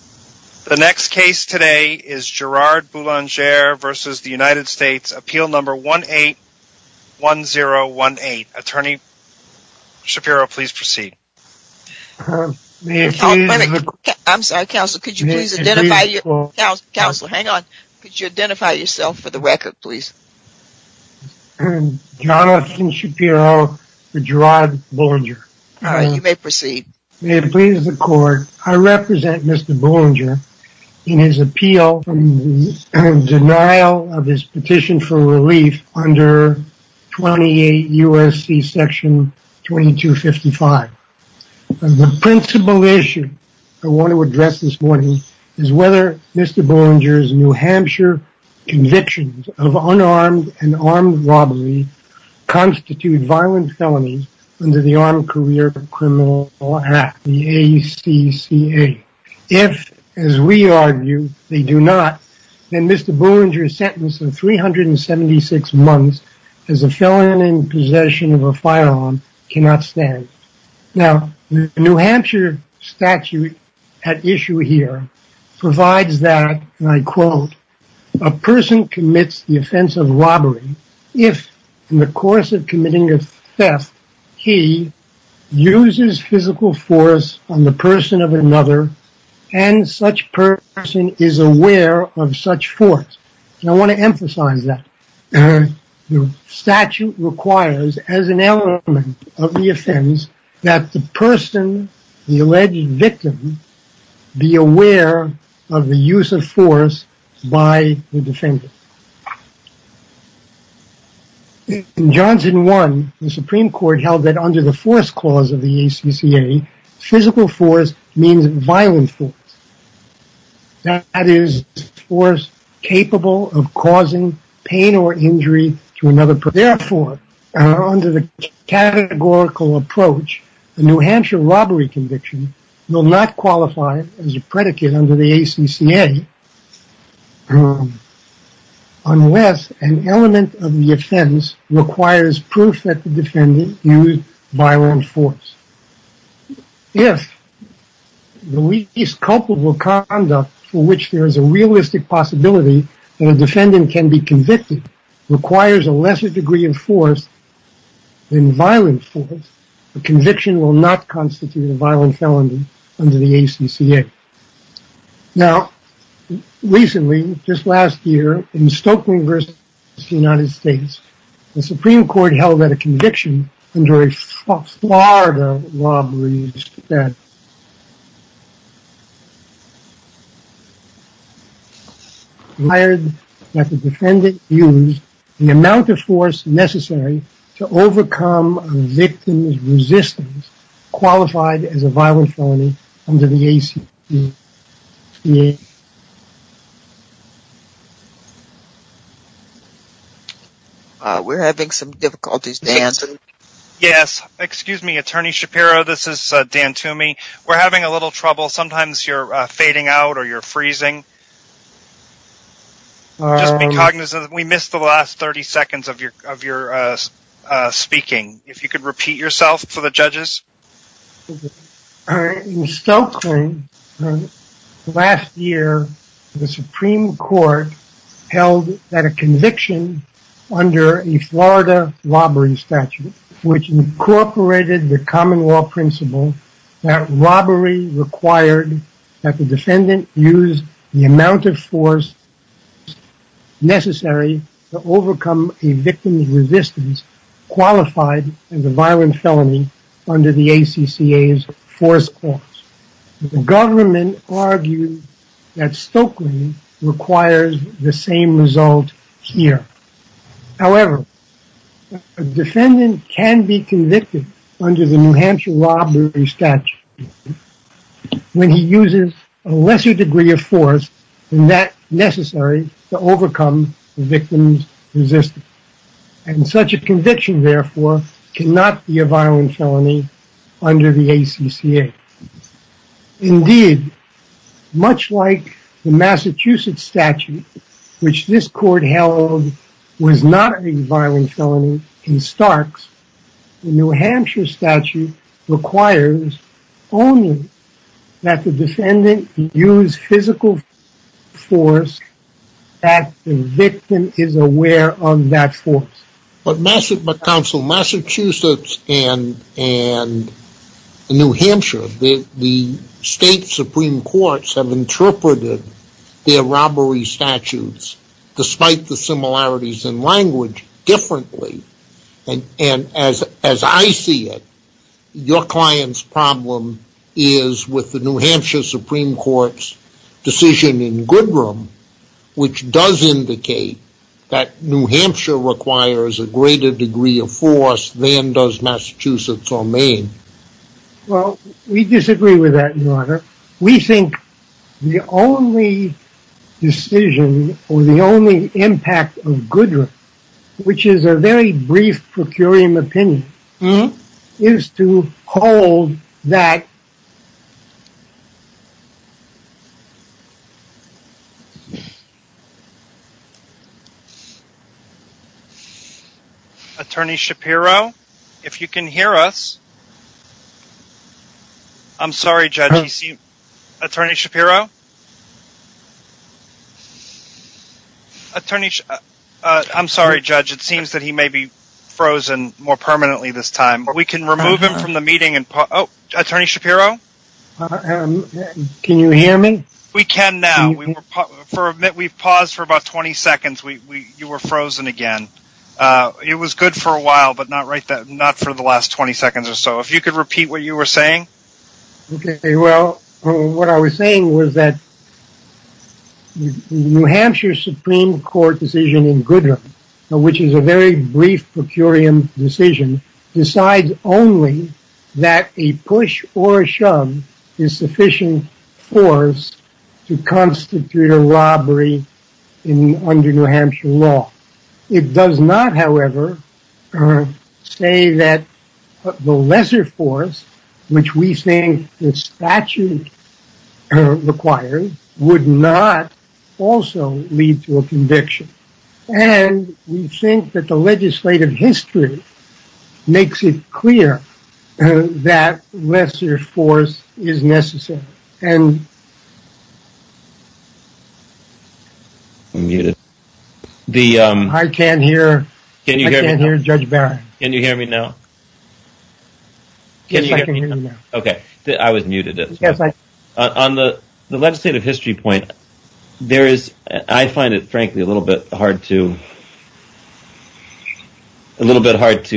Appeal 18-1018 Johnathan Shapiro v. Gerard Boulanger I represent Mr. Boulanger in his appeal from the denial of his petition for relief under 28 U.S.C. Section 2255. The principal issue I want to address this morning is whether Mr. Boulanger's New Hampshire convictions of unarmed and armed robbery constitute violent felonies under the Armed Career Criminal Act, the ACCA. If, as we argue, they do not, then Mr. Boulanger's sentence of 376 months as a felon in possession of a firearm cannot stand. Now, the New Hampshire statute at issue here provides that, and I quote, a person commits the offense of robbery if, in the course of committing a theft, he uses physical force on the person of another, and such person is aware of such force. I want to emphasize that. The statute requires, as an element of the offense, that the person, the alleged victim, be aware of the use of force by the defendant. In Johnson 1, the Supreme Court held that under the force clause of the ACCA, physical force means violent force. That is, force capable of causing pain or injury to another person. Therefore, under the categorical approach, the New Hampshire robbery conviction will not qualify as a predicate under the ACCA unless an element of the offense requires proof that the defendant used violent force. If the least culpable conduct for which there is a realistic possibility that a defendant can be convicted requires a lesser degree of force than violent force, the conviction will not constitute a violent felony under the ACCA. Now, recently, just last year, in Stokely versus the United States, the Supreme Court held that a conviction under a Florida robbery statute required that the defendant use the amount of force necessary to overcome a victim's resistance qualified as a violent felony under the ACCA. We're having some difficulties, Dan. Yes, excuse me, Attorney Shapiro, this is Dan Toomey. We're having a little trouble. Sometimes you're fading out or you're freezing. Just be cognizant. We missed the last 30 seconds of your speaking. If you could repeat yourself for the judges. In Stokely, last year, the Supreme Court held that a conviction under a Florida robbery statute, which incorporated the common law principle that robbery required that the defendant use the amount of force necessary to overcome a victim's resistance qualified as a violent felony under the ACCA's force clause. The government argued that Stokely requires the same result here. However, a defendant can be convicted under the New Hampshire robbery statute when he uses a lesser degree of force than that necessary to overcome the victim's resistance. And such a conviction, therefore, cannot be a violent felony under the ACCA. Indeed, much like the Massachusetts statute, which this court held was not a violent felony in Starks, the New Hampshire statute requires only that the defendant use physical force that the victim is aware of that force. But, counsel, Massachusetts and New Hampshire, the state Supreme Courts have interpreted their robbery statutes, despite the similarities in language, differently. And as I see it, your client's with the New Hampshire Supreme Court's decision in Goodrum, which does indicate that New Hampshire requires a greater degree of force than does Massachusetts or Maine. Well, we disagree with that, your honor. We think the only decision, or the only impact of Goodrum, which is a very brief procurium opinion, is to hold that... Attorney Shapiro, if you can hear us. I'm sorry, Judge. Attorney Shapiro? Attorney... I'm sorry, Judge. It seems that he may be frozen more permanently this time. We can remove him from the meeting and... Oh, Attorney Shapiro? Can you hear me? We can now. We've paused for about 20 seconds. You were frozen again. It was good for a while, but not for the last 20 seconds or so. If you could repeat what you were saying. Okay. Well, what I was saying was that New Hampshire Supreme Court decision in Goodrum, which is a very brief procurium decision, decides only that a push or a shove is sufficient force to constitute a robbery under New Hampshire law. It does not, however, say that the lesser force, which we think the statute requires, would not also lead to a conviction. And we think that the legislative history makes it clear that lesser force is necessary. And... I can't hear Judge Barron. Can you hear me now? Yes, I can hear you now. Okay. I was muted as well. On the legislative history point, there is... I find it, frankly, a little bit hard to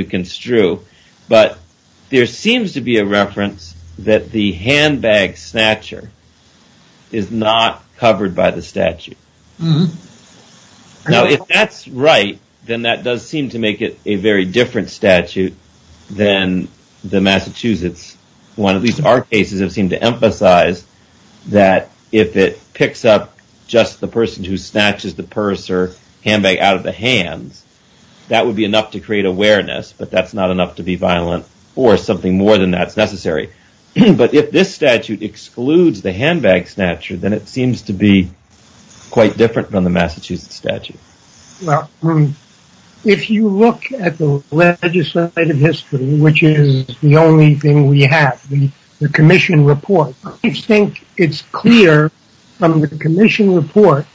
construe, but there seems to be a reference that the handbag snatcher is not covered by the statute. Now, if that's right, then that does seem to make it a very different statute than the Massachusetts one. At least our cases have seemed to emphasize that if it picks up just the person who snatches the purse or handbag out of the hands, that would be enough to create awareness, but that's not enough to be violent or something more than that's necessary. But if this statute excludes the handbag snatcher, then it seems to be quite different from the Massachusetts statute. Well, if you look at the legislative history, which is the only thing we have, the commission report, I think it's clear from the commission report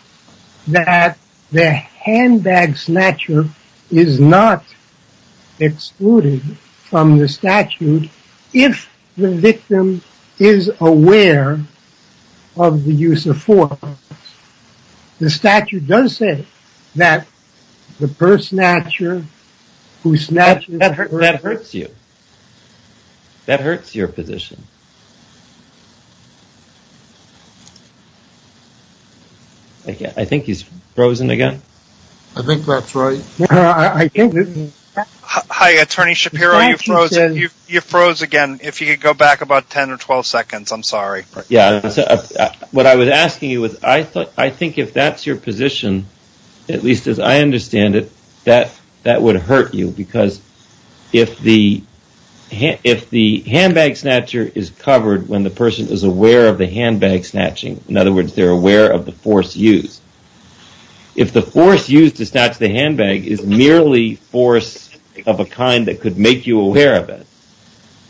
that the handbag snatcher is not excluded from the statute if the victim is aware of the use of force. But the statute does say that the purse snatcher who snatches... That hurts you. That hurts your position. I think he's frozen again. I think that's right. Hi, Attorney Shapiro, you froze again. If you could go back about 10 or 12 seconds, I'm sorry. Yeah, what I was asking you was, I think if that's your position, at least as I understand it, that would hurt you because if the handbag snatcher is covered when the person is aware of the handbag snatching, in other words, they're aware of the force used. If the force used to snatch the handbag is merely force of a kind that could make you aware of it,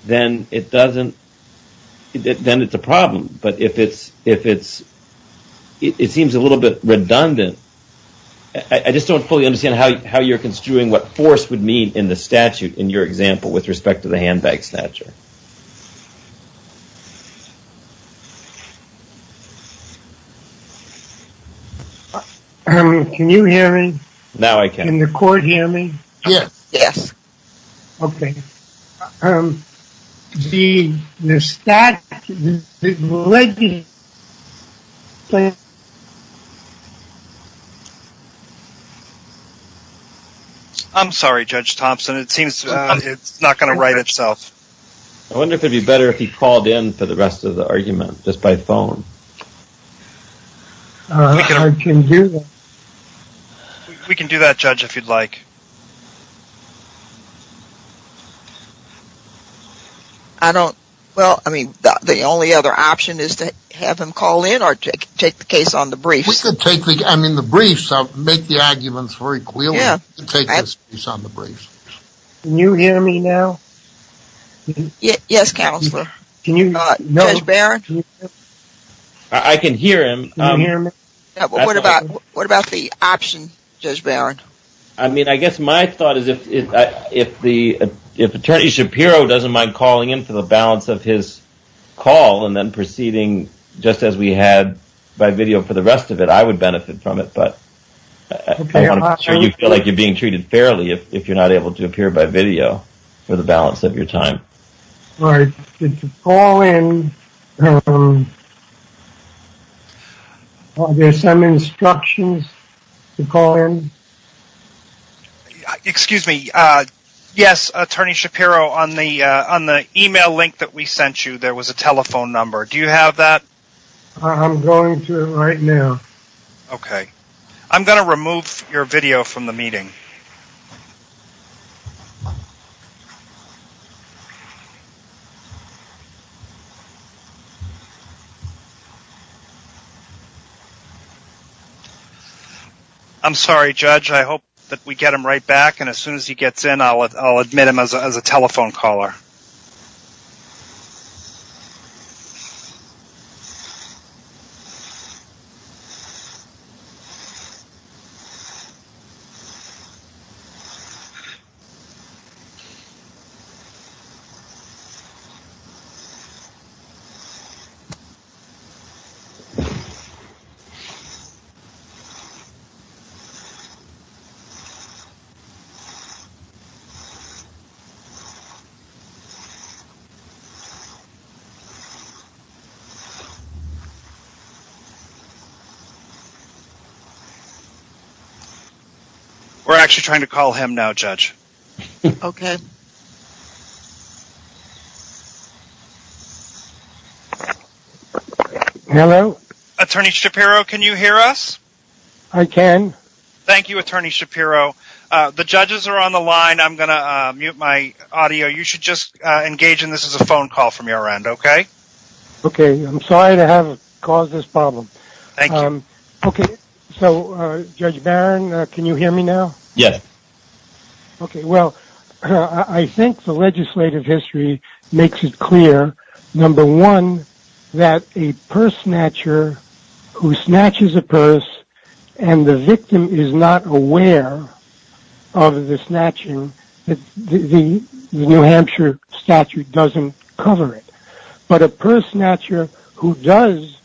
then it doesn't... Then it's a problem. But if it's... It seems a little bit redundant. I just don't fully understand how you're construing what force would mean in the statute in your example with respect to the handbag snatcher. Can you hear me? Now I can. Can the court hear me? Yes. Yes. Okay. I'm sorry, Judge Thompson. It seems it's not going to write itself. I wonder if it'd be better if he called in for the rest of the argument just by phone. I can do that. We can do that, Judge, if you'd like. I don't... Well, I mean, the only other option is to have him call in or take the case on the briefs. We could take the... I mean, the briefs make the arguments very clear. Yeah. We can take the case on the briefs. Can you hear me now? Yes, Counselor. Can you... Judge Barron? I can hear him. Can you hear me? Yeah, but what about the option, Judge Barron? I mean, I guess my thought is if Attorney Shapiro doesn't mind calling in for the balance of his call and then proceeding just as we had by video for the rest of it, I would benefit from it. But I want to make sure you feel like you're being treated fairly if you're not able to appear by video for the balance of your time. All right. Excuse me. Yes, Attorney Shapiro, on the email link that we sent you, there was a telephone number. Do you have that? I'm going to right now. Okay. I'm going to remove your video from the meeting. I'm sorry, Judge, I hope that we get him right back. And as soon as he gets in, I'll admit him as a telephone caller. Okay. We're actually trying to call him now, Judge. Okay. Hello? Attorney Shapiro, can you hear us? I can. Thank you, Attorney Shapiro. The judges are on the line. I'm going to mute my audio. You should just engage in this as a phone call from your end. Okay? Okay. I'm sorry to have caused this problem. Thank you. Okay. So, Judge Barron, can you hear me now? Yes. Okay. Well, I think the legislative history makes it clear, number one, that a purse snatcher who snatches a purse and the victim is not aware of the snatching, the New Hampshire statute doesn't cover it. But a purse snatcher who does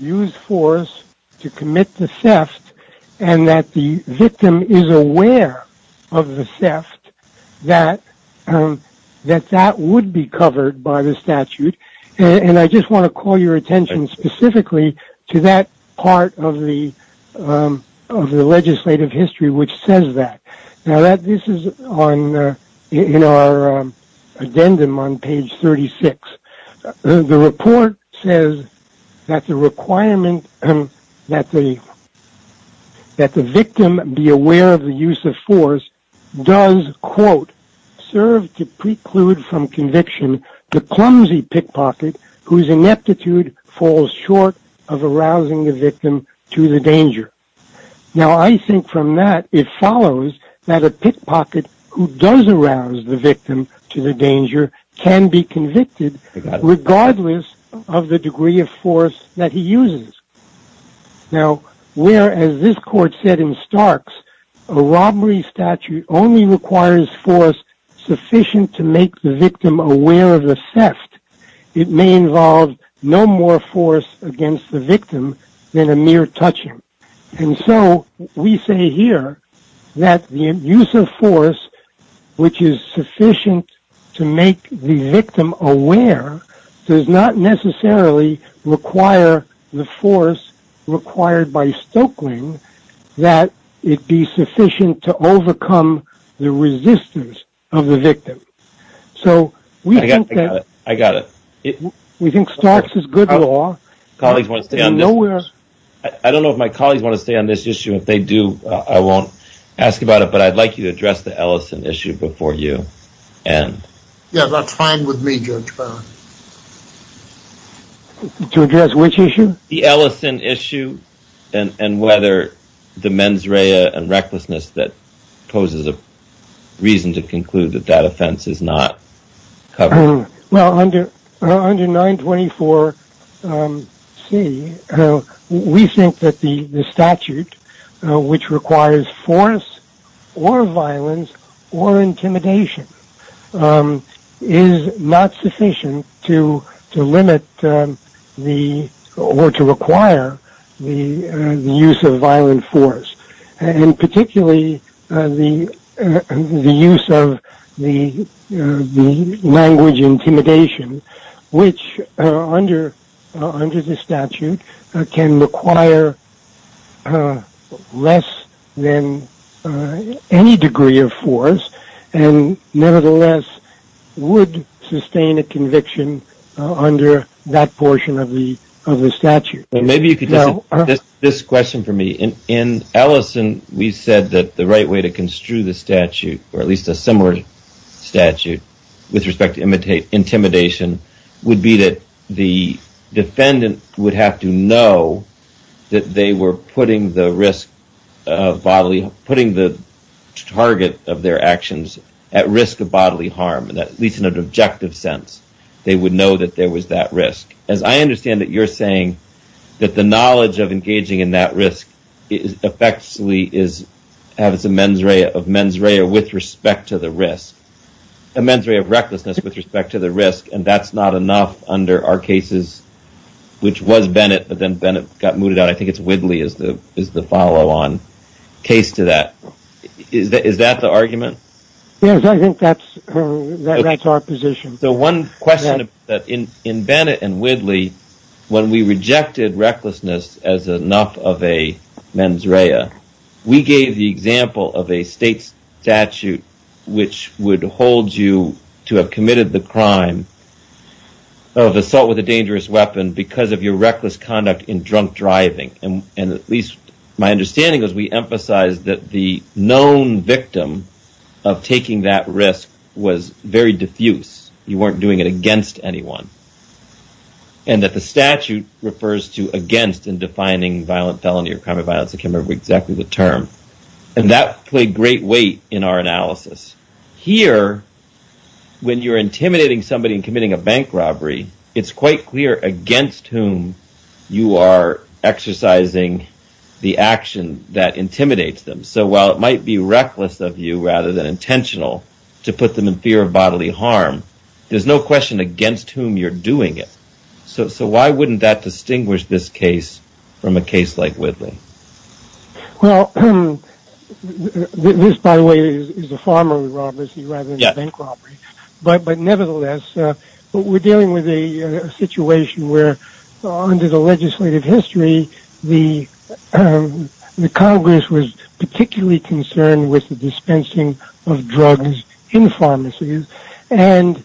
use force to commit the theft and that the victim is aware of the theft, that that would be covered by the statute. And I just want to call your attention specifically to that part of the legislative history which says that. Now, this is in our addendum on page 36. The report says that the requirement that the victim be aware of the use of force does, quote, serve to preclude from conviction the clumsy pickpocket whose ineptitude falls short of arousing the victim to the danger. Now, I think from that, it follows that a pickpocket who does arouse the victim to the danger can be convicted regardless of the degree of force that he uses. Now, where, as this court said in Starks, a robbery statute only requires force sufficient to make the victim aware of the theft, it may involve no more force against the victim than a mere touching. And so we say here that the use of force which is sufficient to make the victim aware does not necessarily require the force required by Stokeling that it be sufficient to overcome the resistance of the victim. So we think that I got it. We think Starks is good law. I don't know if my colleagues want to stay on this issue. If they do, I won't ask about it. But I'd like you to address the Ellison issue before you. Yeah, that's fine with me, Judge Brown. To address which issue? The Ellison issue and whether the mens rea and recklessness that poses a reason to conclude that that offense is not covered. Well, under 924C, we think that the statute which requires force or violence or intimidation is not sufficient to limit the or to require the use of violent force and particularly the use of the language intimidation which under the statute can require less than any degree of force and nevertheless would sustain a conviction under that portion of the statute. Maybe you could just this question for me. In Ellison, we said that the right way to construe the statute or at least a similar statute with respect to intimidation would be that the defendant would have to know that they were putting the risk of bodily putting the target of their actions at risk of bodily harm, at least in an objective sense. They would know that there was that risk. As I understand it, you're saying that the knowledge of engaging in that risk is effectively is a mens rea of mens rea with respect to the risk, a mens rea of recklessness with respect to the risk, and that's not enough under our cases, which was Bennett, but then Bennett got mooted out. I think it's Widley is the follow on case to that. Is that the argument? Yes, I think that's our position. So one question that in Bennett and Widley, when we rejected recklessness as enough of a mens rea, we gave the example of a state statute, which would hold you to have committed the crime of assault with a dangerous weapon because of your reckless conduct in drunk driving. And at least my understanding is we emphasize that the known victim of taking that risk was very diffuse. You weren't doing it against anyone, and that the statute refers to against in defining violent felony or crime of violence. I can't remember exactly the term, and that played great weight in our analysis. Here, when you're intimidating somebody and committing a bank robbery, it's quite clear against whom you are exercising the action that intimidates them. So while it might be reckless of you rather than intentional to put them in fear of bodily harm, there's no question against whom you're doing it. So why wouldn't that distinguish this case from a case like Widley? Well, this, by the way, is a farm robbery rather than a bank robbery. But nevertheless, we're dealing with a situation where under the legislative history, the Department of Health is particularly concerned with the dispensing of drugs in pharmacies. And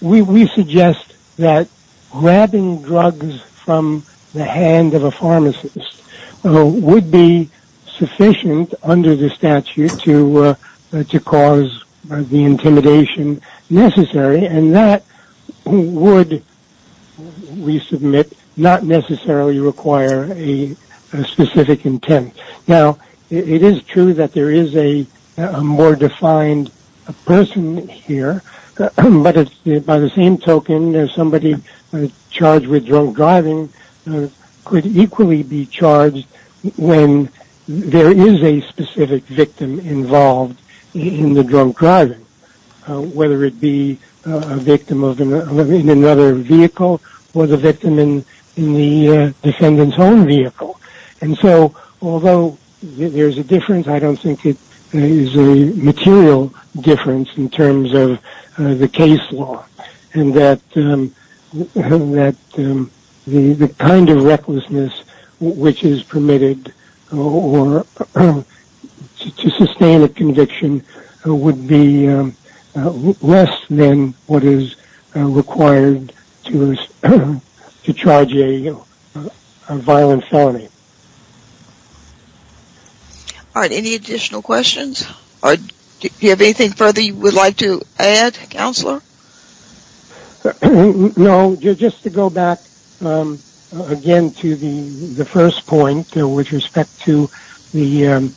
we suggest that grabbing drugs from the hand of a pharmacist would be sufficient under the statute to cause the intimidation necessary. And that would, we submit, not necessarily require a specific intent. Now, it is true that there is a more defined person here. But by the same token, somebody charged with drunk driving could equally be charged when there is a specific victim involved in the drunk driving, whether it be a victim in another vehicle or the victim in the defendant's own vehicle. And so although there's a difference, I don't think it is a material difference in terms of the case law and that the kind of recklessness which is permitted to sustain a conviction would be less than what is required to charge a violent felony. All right. Any additional questions? Do you have anything further you would like to add, Counselor? No. Just to go back, again, to the first point with respect to the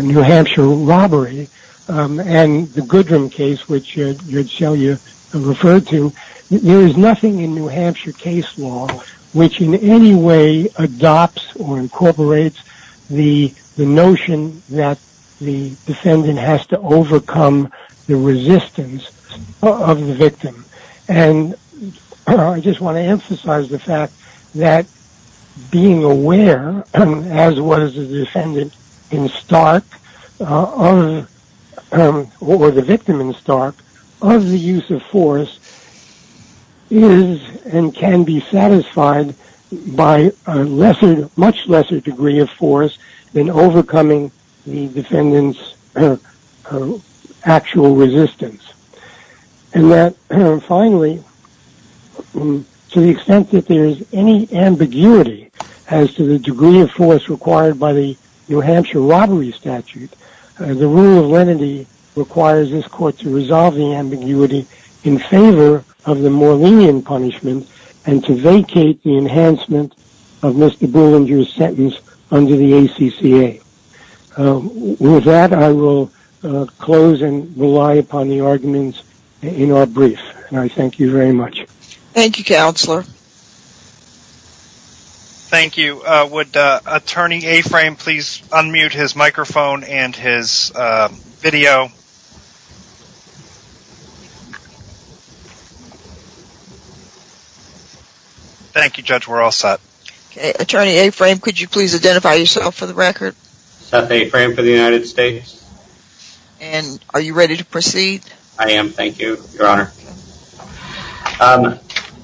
New Hampshire robbery and the Goodrum case which you referred to, there is nothing in New Hampshire case law which in any way adopts or incorporates the notion that the defendant has to overcome the resistance of the victim. And I just want to emphasize the fact that being aware, as was the defendant in Stark, or the victim in Stark, of the use of force is and can be satisfied by a much lesser degree of force than overcoming the defendant's actual resistance. And that, finally, to the extent that there's any ambiguity as to the degree of force required by the New Hampshire robbery statute, the rule of lenity requires this court to resolve the ambiguity in favor of the more lenient punishment and to vacate the enhancement of Mr. Bullinger's sentence under the ACCA. With that, I will close and rely upon the arguments in our brief. And I thank you very much. Thank you, Counselor. Thank you. Would Attorney A-Frame please unmute his microphone and his video? Thank you, Judge. We're all set. Okay. Attorney A-Frame, could you please identify yourself for the record? Seth A-Frame for the United States. And are you ready to proceed? I am. Thank you, Your Honor.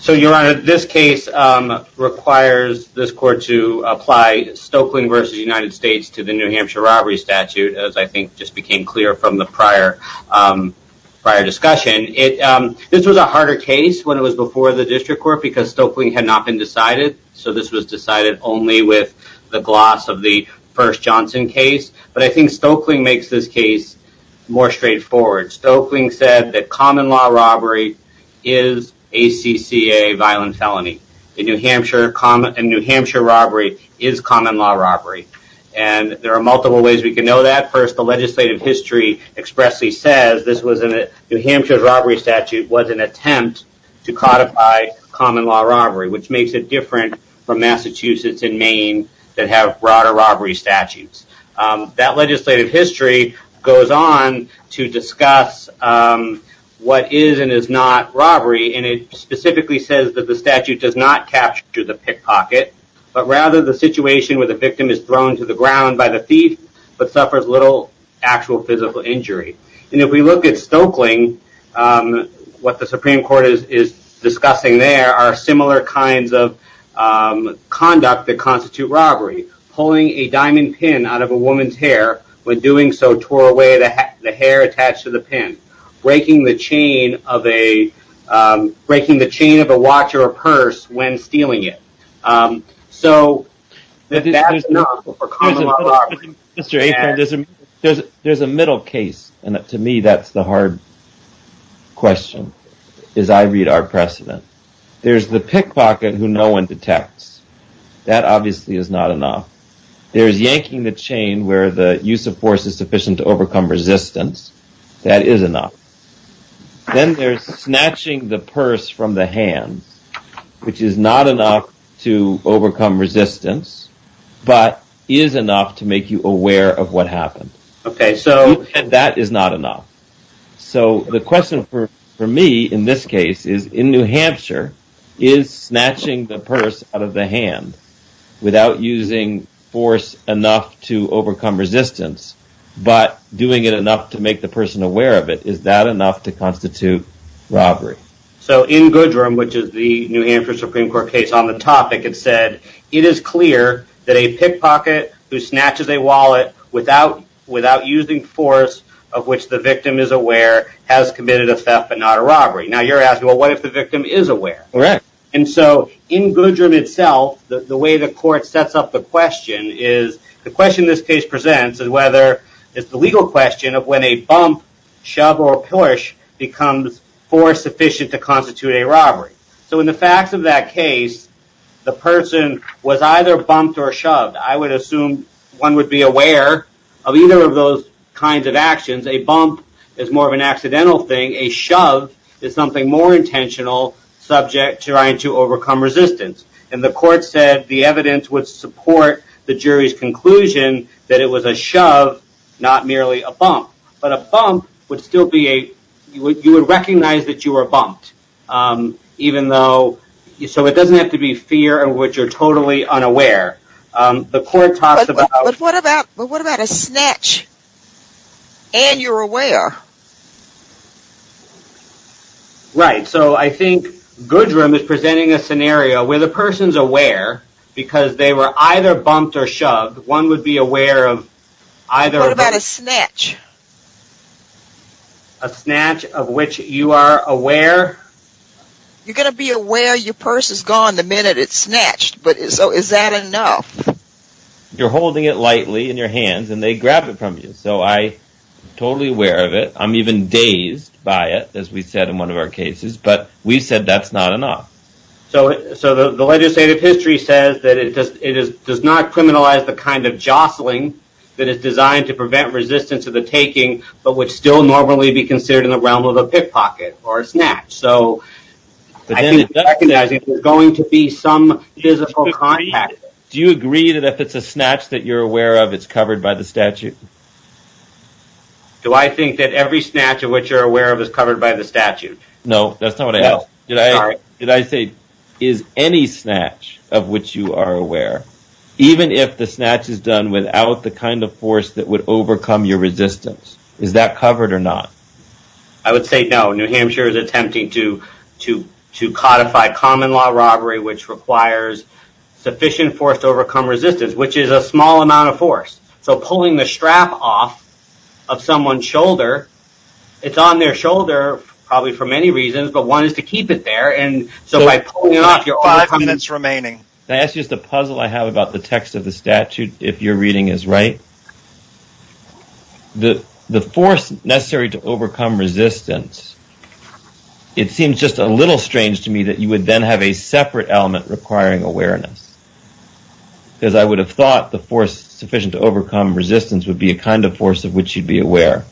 So, Your Honor, this case requires this court to apply Stoeckling v. United States to the New Hampshire robbery statute, as I think just became clear from the prior discussion. This was a harder case when it was before the district court because Stoeckling had not been decided. So, this was decided only with the gloss of the first Johnson case. But I think Stoeckling makes this case more straightforward. Stoeckling said that common law robbery is ACCA violent felony. And New Hampshire robbery is common law robbery. And there are multiple ways we can know that. First, the legislative history expressly says this was New Hampshire's robbery statute was an attempt to codify common law robbery, which makes it different from Massachusetts and Maine that have broader robbery statutes. That legislative history goes on to discuss what is and is not robbery. And it specifically says that the statute does not capture the pickpocket, but rather the situation where the victim is thrown to the ground by the thief, but suffers little actual physical injury. And if we look at Stoeckling, what the Supreme Court is discussing there are similar kinds of conduct that constitute robbery. Pulling a diamond pin out of a woman's hair, but doing so tore away the hair attached to the pin. Breaking the chain of a watch or a purse when stealing it. So there's a middle case. And to me, that's the hard question is I read our precedent. There's the pickpocket who no one detects. That obviously is not enough. There is yanking the chain where the use of force is sufficient to overcome resistance. That is enough. Then there's snatching the purse from the hand, which is not enough to overcome resistance, but is enough to make you aware of what happened. OK, so that is not enough. So the question for me in this case is in New Hampshire is snatching the purse out of the hand without using force enough to overcome resistance, but doing it enough to make the person aware of it. Is that enough to constitute robbery? So in Goodrum, which is the New Hampshire Supreme Court case on the topic, it said it is clear that a pickpocket who snatches a wallet without without using force of which the victim is aware has committed a theft, but not a robbery. Now, you're asking, well, what if the victim is aware? All right. And so in Goodrum itself, the way the court sets up the question is the question this case presents is whether it's the legal question of when a bump, shove, or push becomes force sufficient to constitute a robbery. So in the facts of that case, the person was either bumped or shoved. I would assume one would be aware of either of those kinds of actions. A bump is more of an accidental thing. A shove is something more intentional, subject to trying to overcome resistance. And the court said the evidence would support the jury's conclusion that it was a shove, not merely a bump. But a bump would still be a, you would recognize that you were bumped. Even though, so it doesn't have to be fear in which you're totally unaware. The court talks about- But what about a snatch and you're aware? Right. So I think Goodrum is presenting a scenario where the person's aware because they were either bumped or shoved. One would be aware of either- What about a snatch? A snatch of which you are aware. You're going to be aware your purse is gone the minute it's snatched. But so is that enough? You're holding it lightly in your hands and they grab it from you. So I'm totally aware of it. I'm even dazed by it, as we said in one of our cases. But we said that's not enough. So the legislative history says that it does not criminalize the kind of jostling that is designed to prevent resistance of the taking, but would still normally be considered in the realm of a pickpocket or a snatch. So I think recognizing there's going to be some physical contact. Do you agree that if it's a snatch that you're aware of, it's covered by the statute? Do I think that every snatch of which you're aware of is covered by the statute? No, that's not what I asked. No, sorry. Did I say, is any snatch of which you are aware, even if the snatch is done without the kind of force that would overcome your resistance, is that covered or not? I would say no. New Hampshire is attempting to codify common law robbery, which requires sufficient force to overcome resistance, which is a small amount of force. So pulling the strap off of someone's shoulder, it's on their shoulder probably for many reasons, but one is to keep it there. And so by pulling it off, you're overcoming it. So five minutes remaining. Can I ask you just a puzzle I have about the text of the statute, if your reading is right? The force necessary to overcome resistance, it seems just a little strange to me that you would then have a separate element requiring awareness. Because I would have thought the force sufficient to overcome resistance would be a kind of force of which you'd be aware.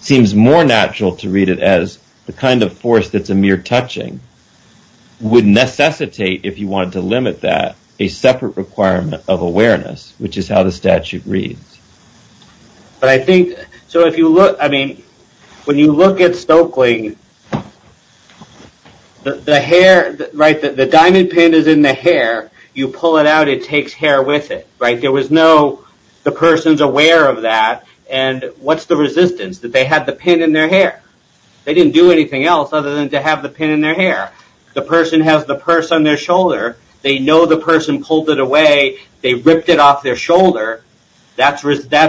Seems more natural to read it as the kind of force that's a mere touching, would necessitate if you wanted to limit that, a separate requirement of awareness, which is how the statute reads. But I think, so if you look, I mean, when you look at Stokely, the hair, right, the takes hair with it, right? There was no, the person's aware of that. And what's the resistance? That they had the pin in their hair. They didn't do anything else other than to have the pin in their hair. The person has the purse on their shoulder. They know the person pulled it away. They ripped it off their shoulder. That's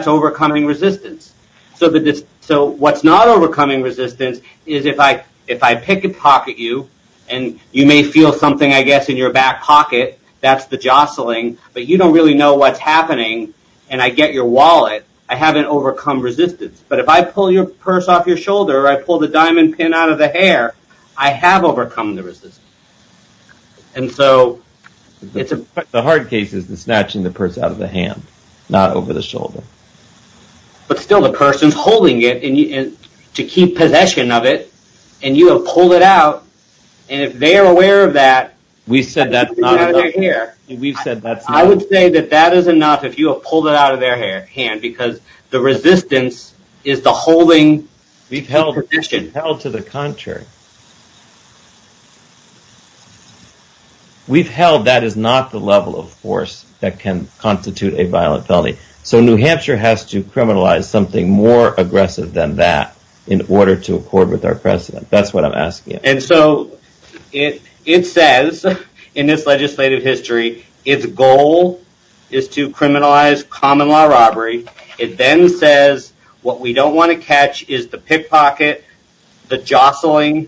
overcoming resistance. So what's not overcoming resistance is if I picket pocket you, and you may feel something, I guess, in your back pocket. That's the jostling. But you don't really know what's happening. And I get your wallet. I haven't overcome resistance. But if I pull your purse off your shoulder, or I pull the diamond pin out of the hair, I have overcome the resistance. And so it's a hard case is the snatching the purse out of the hand, not over the shoulder. But still the person's holding it to keep possession of it. And you have pulled it out. And if they are aware of that. We said that's not enough. I would say that that is enough if you have pulled it out of their hand. Because the resistance is the holding. We've held to the contrary. We've held that is not the level of force that can constitute a violent felony. So New Hampshire has to criminalize something more aggressive than that in order to accord with our precedent. That's what I'm asking. And so it says in this legislative history, its goal is to criminalize common law robbery. It then says what we don't want to catch is the pickpocket, the jostling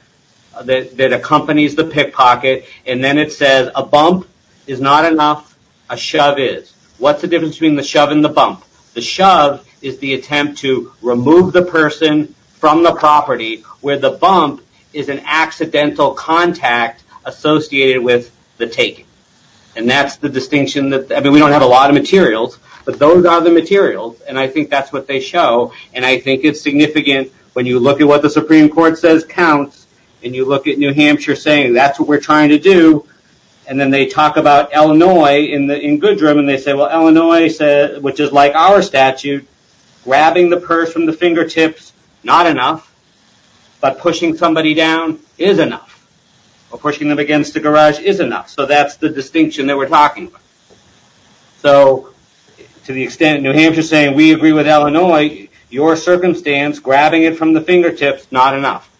that accompanies the pickpocket. And then it says a bump is not enough. A shove is. What's the difference between the shove and the bump? The shove is the attempt to remove the person from the property where the bump is an accidental contact associated with the taking. And that's the distinction that we don't have a lot of materials. But those are the materials. And I think that's what they show. And I think it's significant when you look at what the Supreme Court says counts. And you look at New Hampshire saying that's what we're trying to do. And then they talk about Illinois in Goodrum. And they say, well, Illinois, which is like our statute, grabbing the purse from the fingertips, not enough. But pushing somebody down is enough. Or pushing them against the garage is enough. So that's the distinction that we're talking. So to the extent New Hampshire saying we agree with Illinois, your circumstance grabbing it from the fingertips, not enough.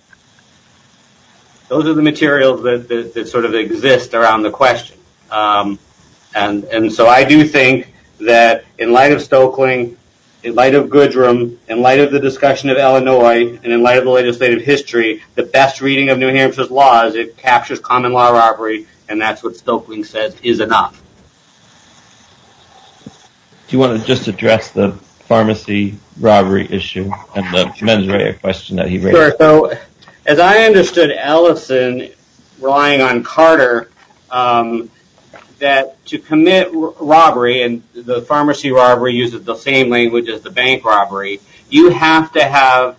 Those are the materials that sort of exist around the question. And so I do think that in light of Stokeling, in light of Goodrum, in light of the discussion of Illinois, and in light of the legislative history, the best reading of New Hampshire's law is it captures common law robbery. And that's what Stokeling says is enough. Do you want to just address the pharmacy robbery issue and the mens rea question that he raised? Sure. So as I understood Ellison relying on Carter, that to commit robbery, and the pharmacy robbery uses the same language as the bank robbery, you have to have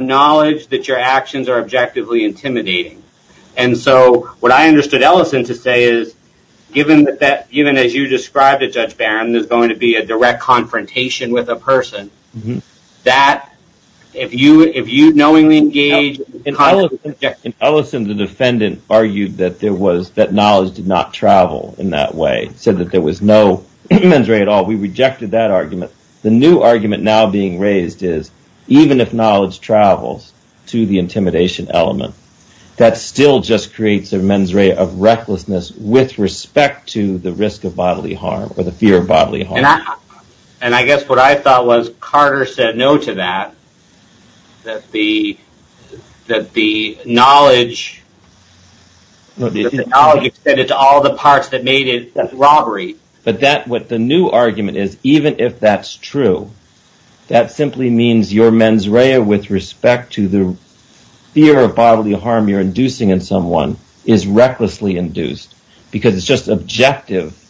knowledge that your actions are objectively intimidating. And so what I understood Ellison to say is, given that even as you described it, Judge Barron, there's going to be a direct confrontation with a person. That if you knowingly engage... Ellison, the defendant, argued that knowledge did not travel in that way, said that there was no mens re at all. We rejected that argument. The new argument now being raised is, even if knowledge travels to the intimidation element, that still just creates a mens re of recklessness with respect to the risk of bodily harm or the fear of bodily harm. And I guess what I thought was Carter said no to that, that the knowledge extended to all the parts that made it robbery. But that what the new argument is, even if that's true, that simply means your mens re with respect to the fear of bodily harm you're inducing in someone is recklessly induced because it's just objective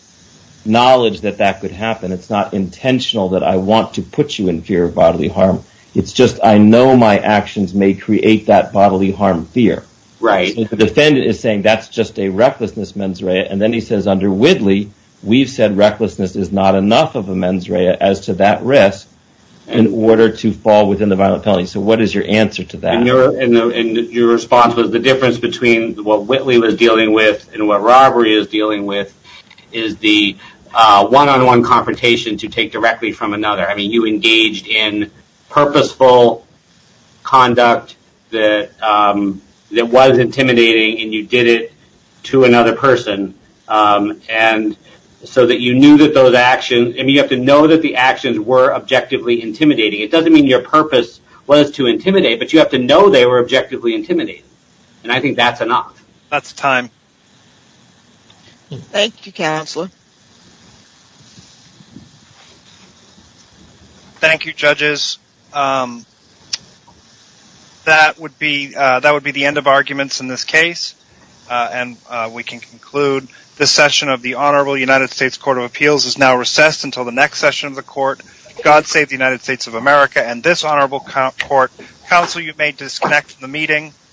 knowledge that that could happen. It's not intentional that I want to put you in fear of bodily harm. It's just I know my actions may create that bodily harm fear. So the defendant is saying that's just a recklessness mens re. And then he says under Whitley, we've said recklessness is not enough of a mens re as to that risk in order to fall within the violent felony. So what is your answer to that? And your response was the difference between what Whitley was dealing with and what robbery is dealing with is the one-on-one confrontation to take directly from another. I mean, you engaged in purposeful conduct that was intimidating and you did it to another person. And so that you knew that those actions and you have to know that the actions were objectively intimidating. It doesn't mean your purpose was to intimidate, but you have to know they were objectively intimidating. And I think that's enough. That's time. Thank you, Counselor. Thank you, judges. That would be the end of arguments in this case. And we can conclude this session of the Honorable United States Court of Appeals is now recessed until the next session of the court. God save the United States of America and this honorable court. Counsel, you may disconnect the meeting.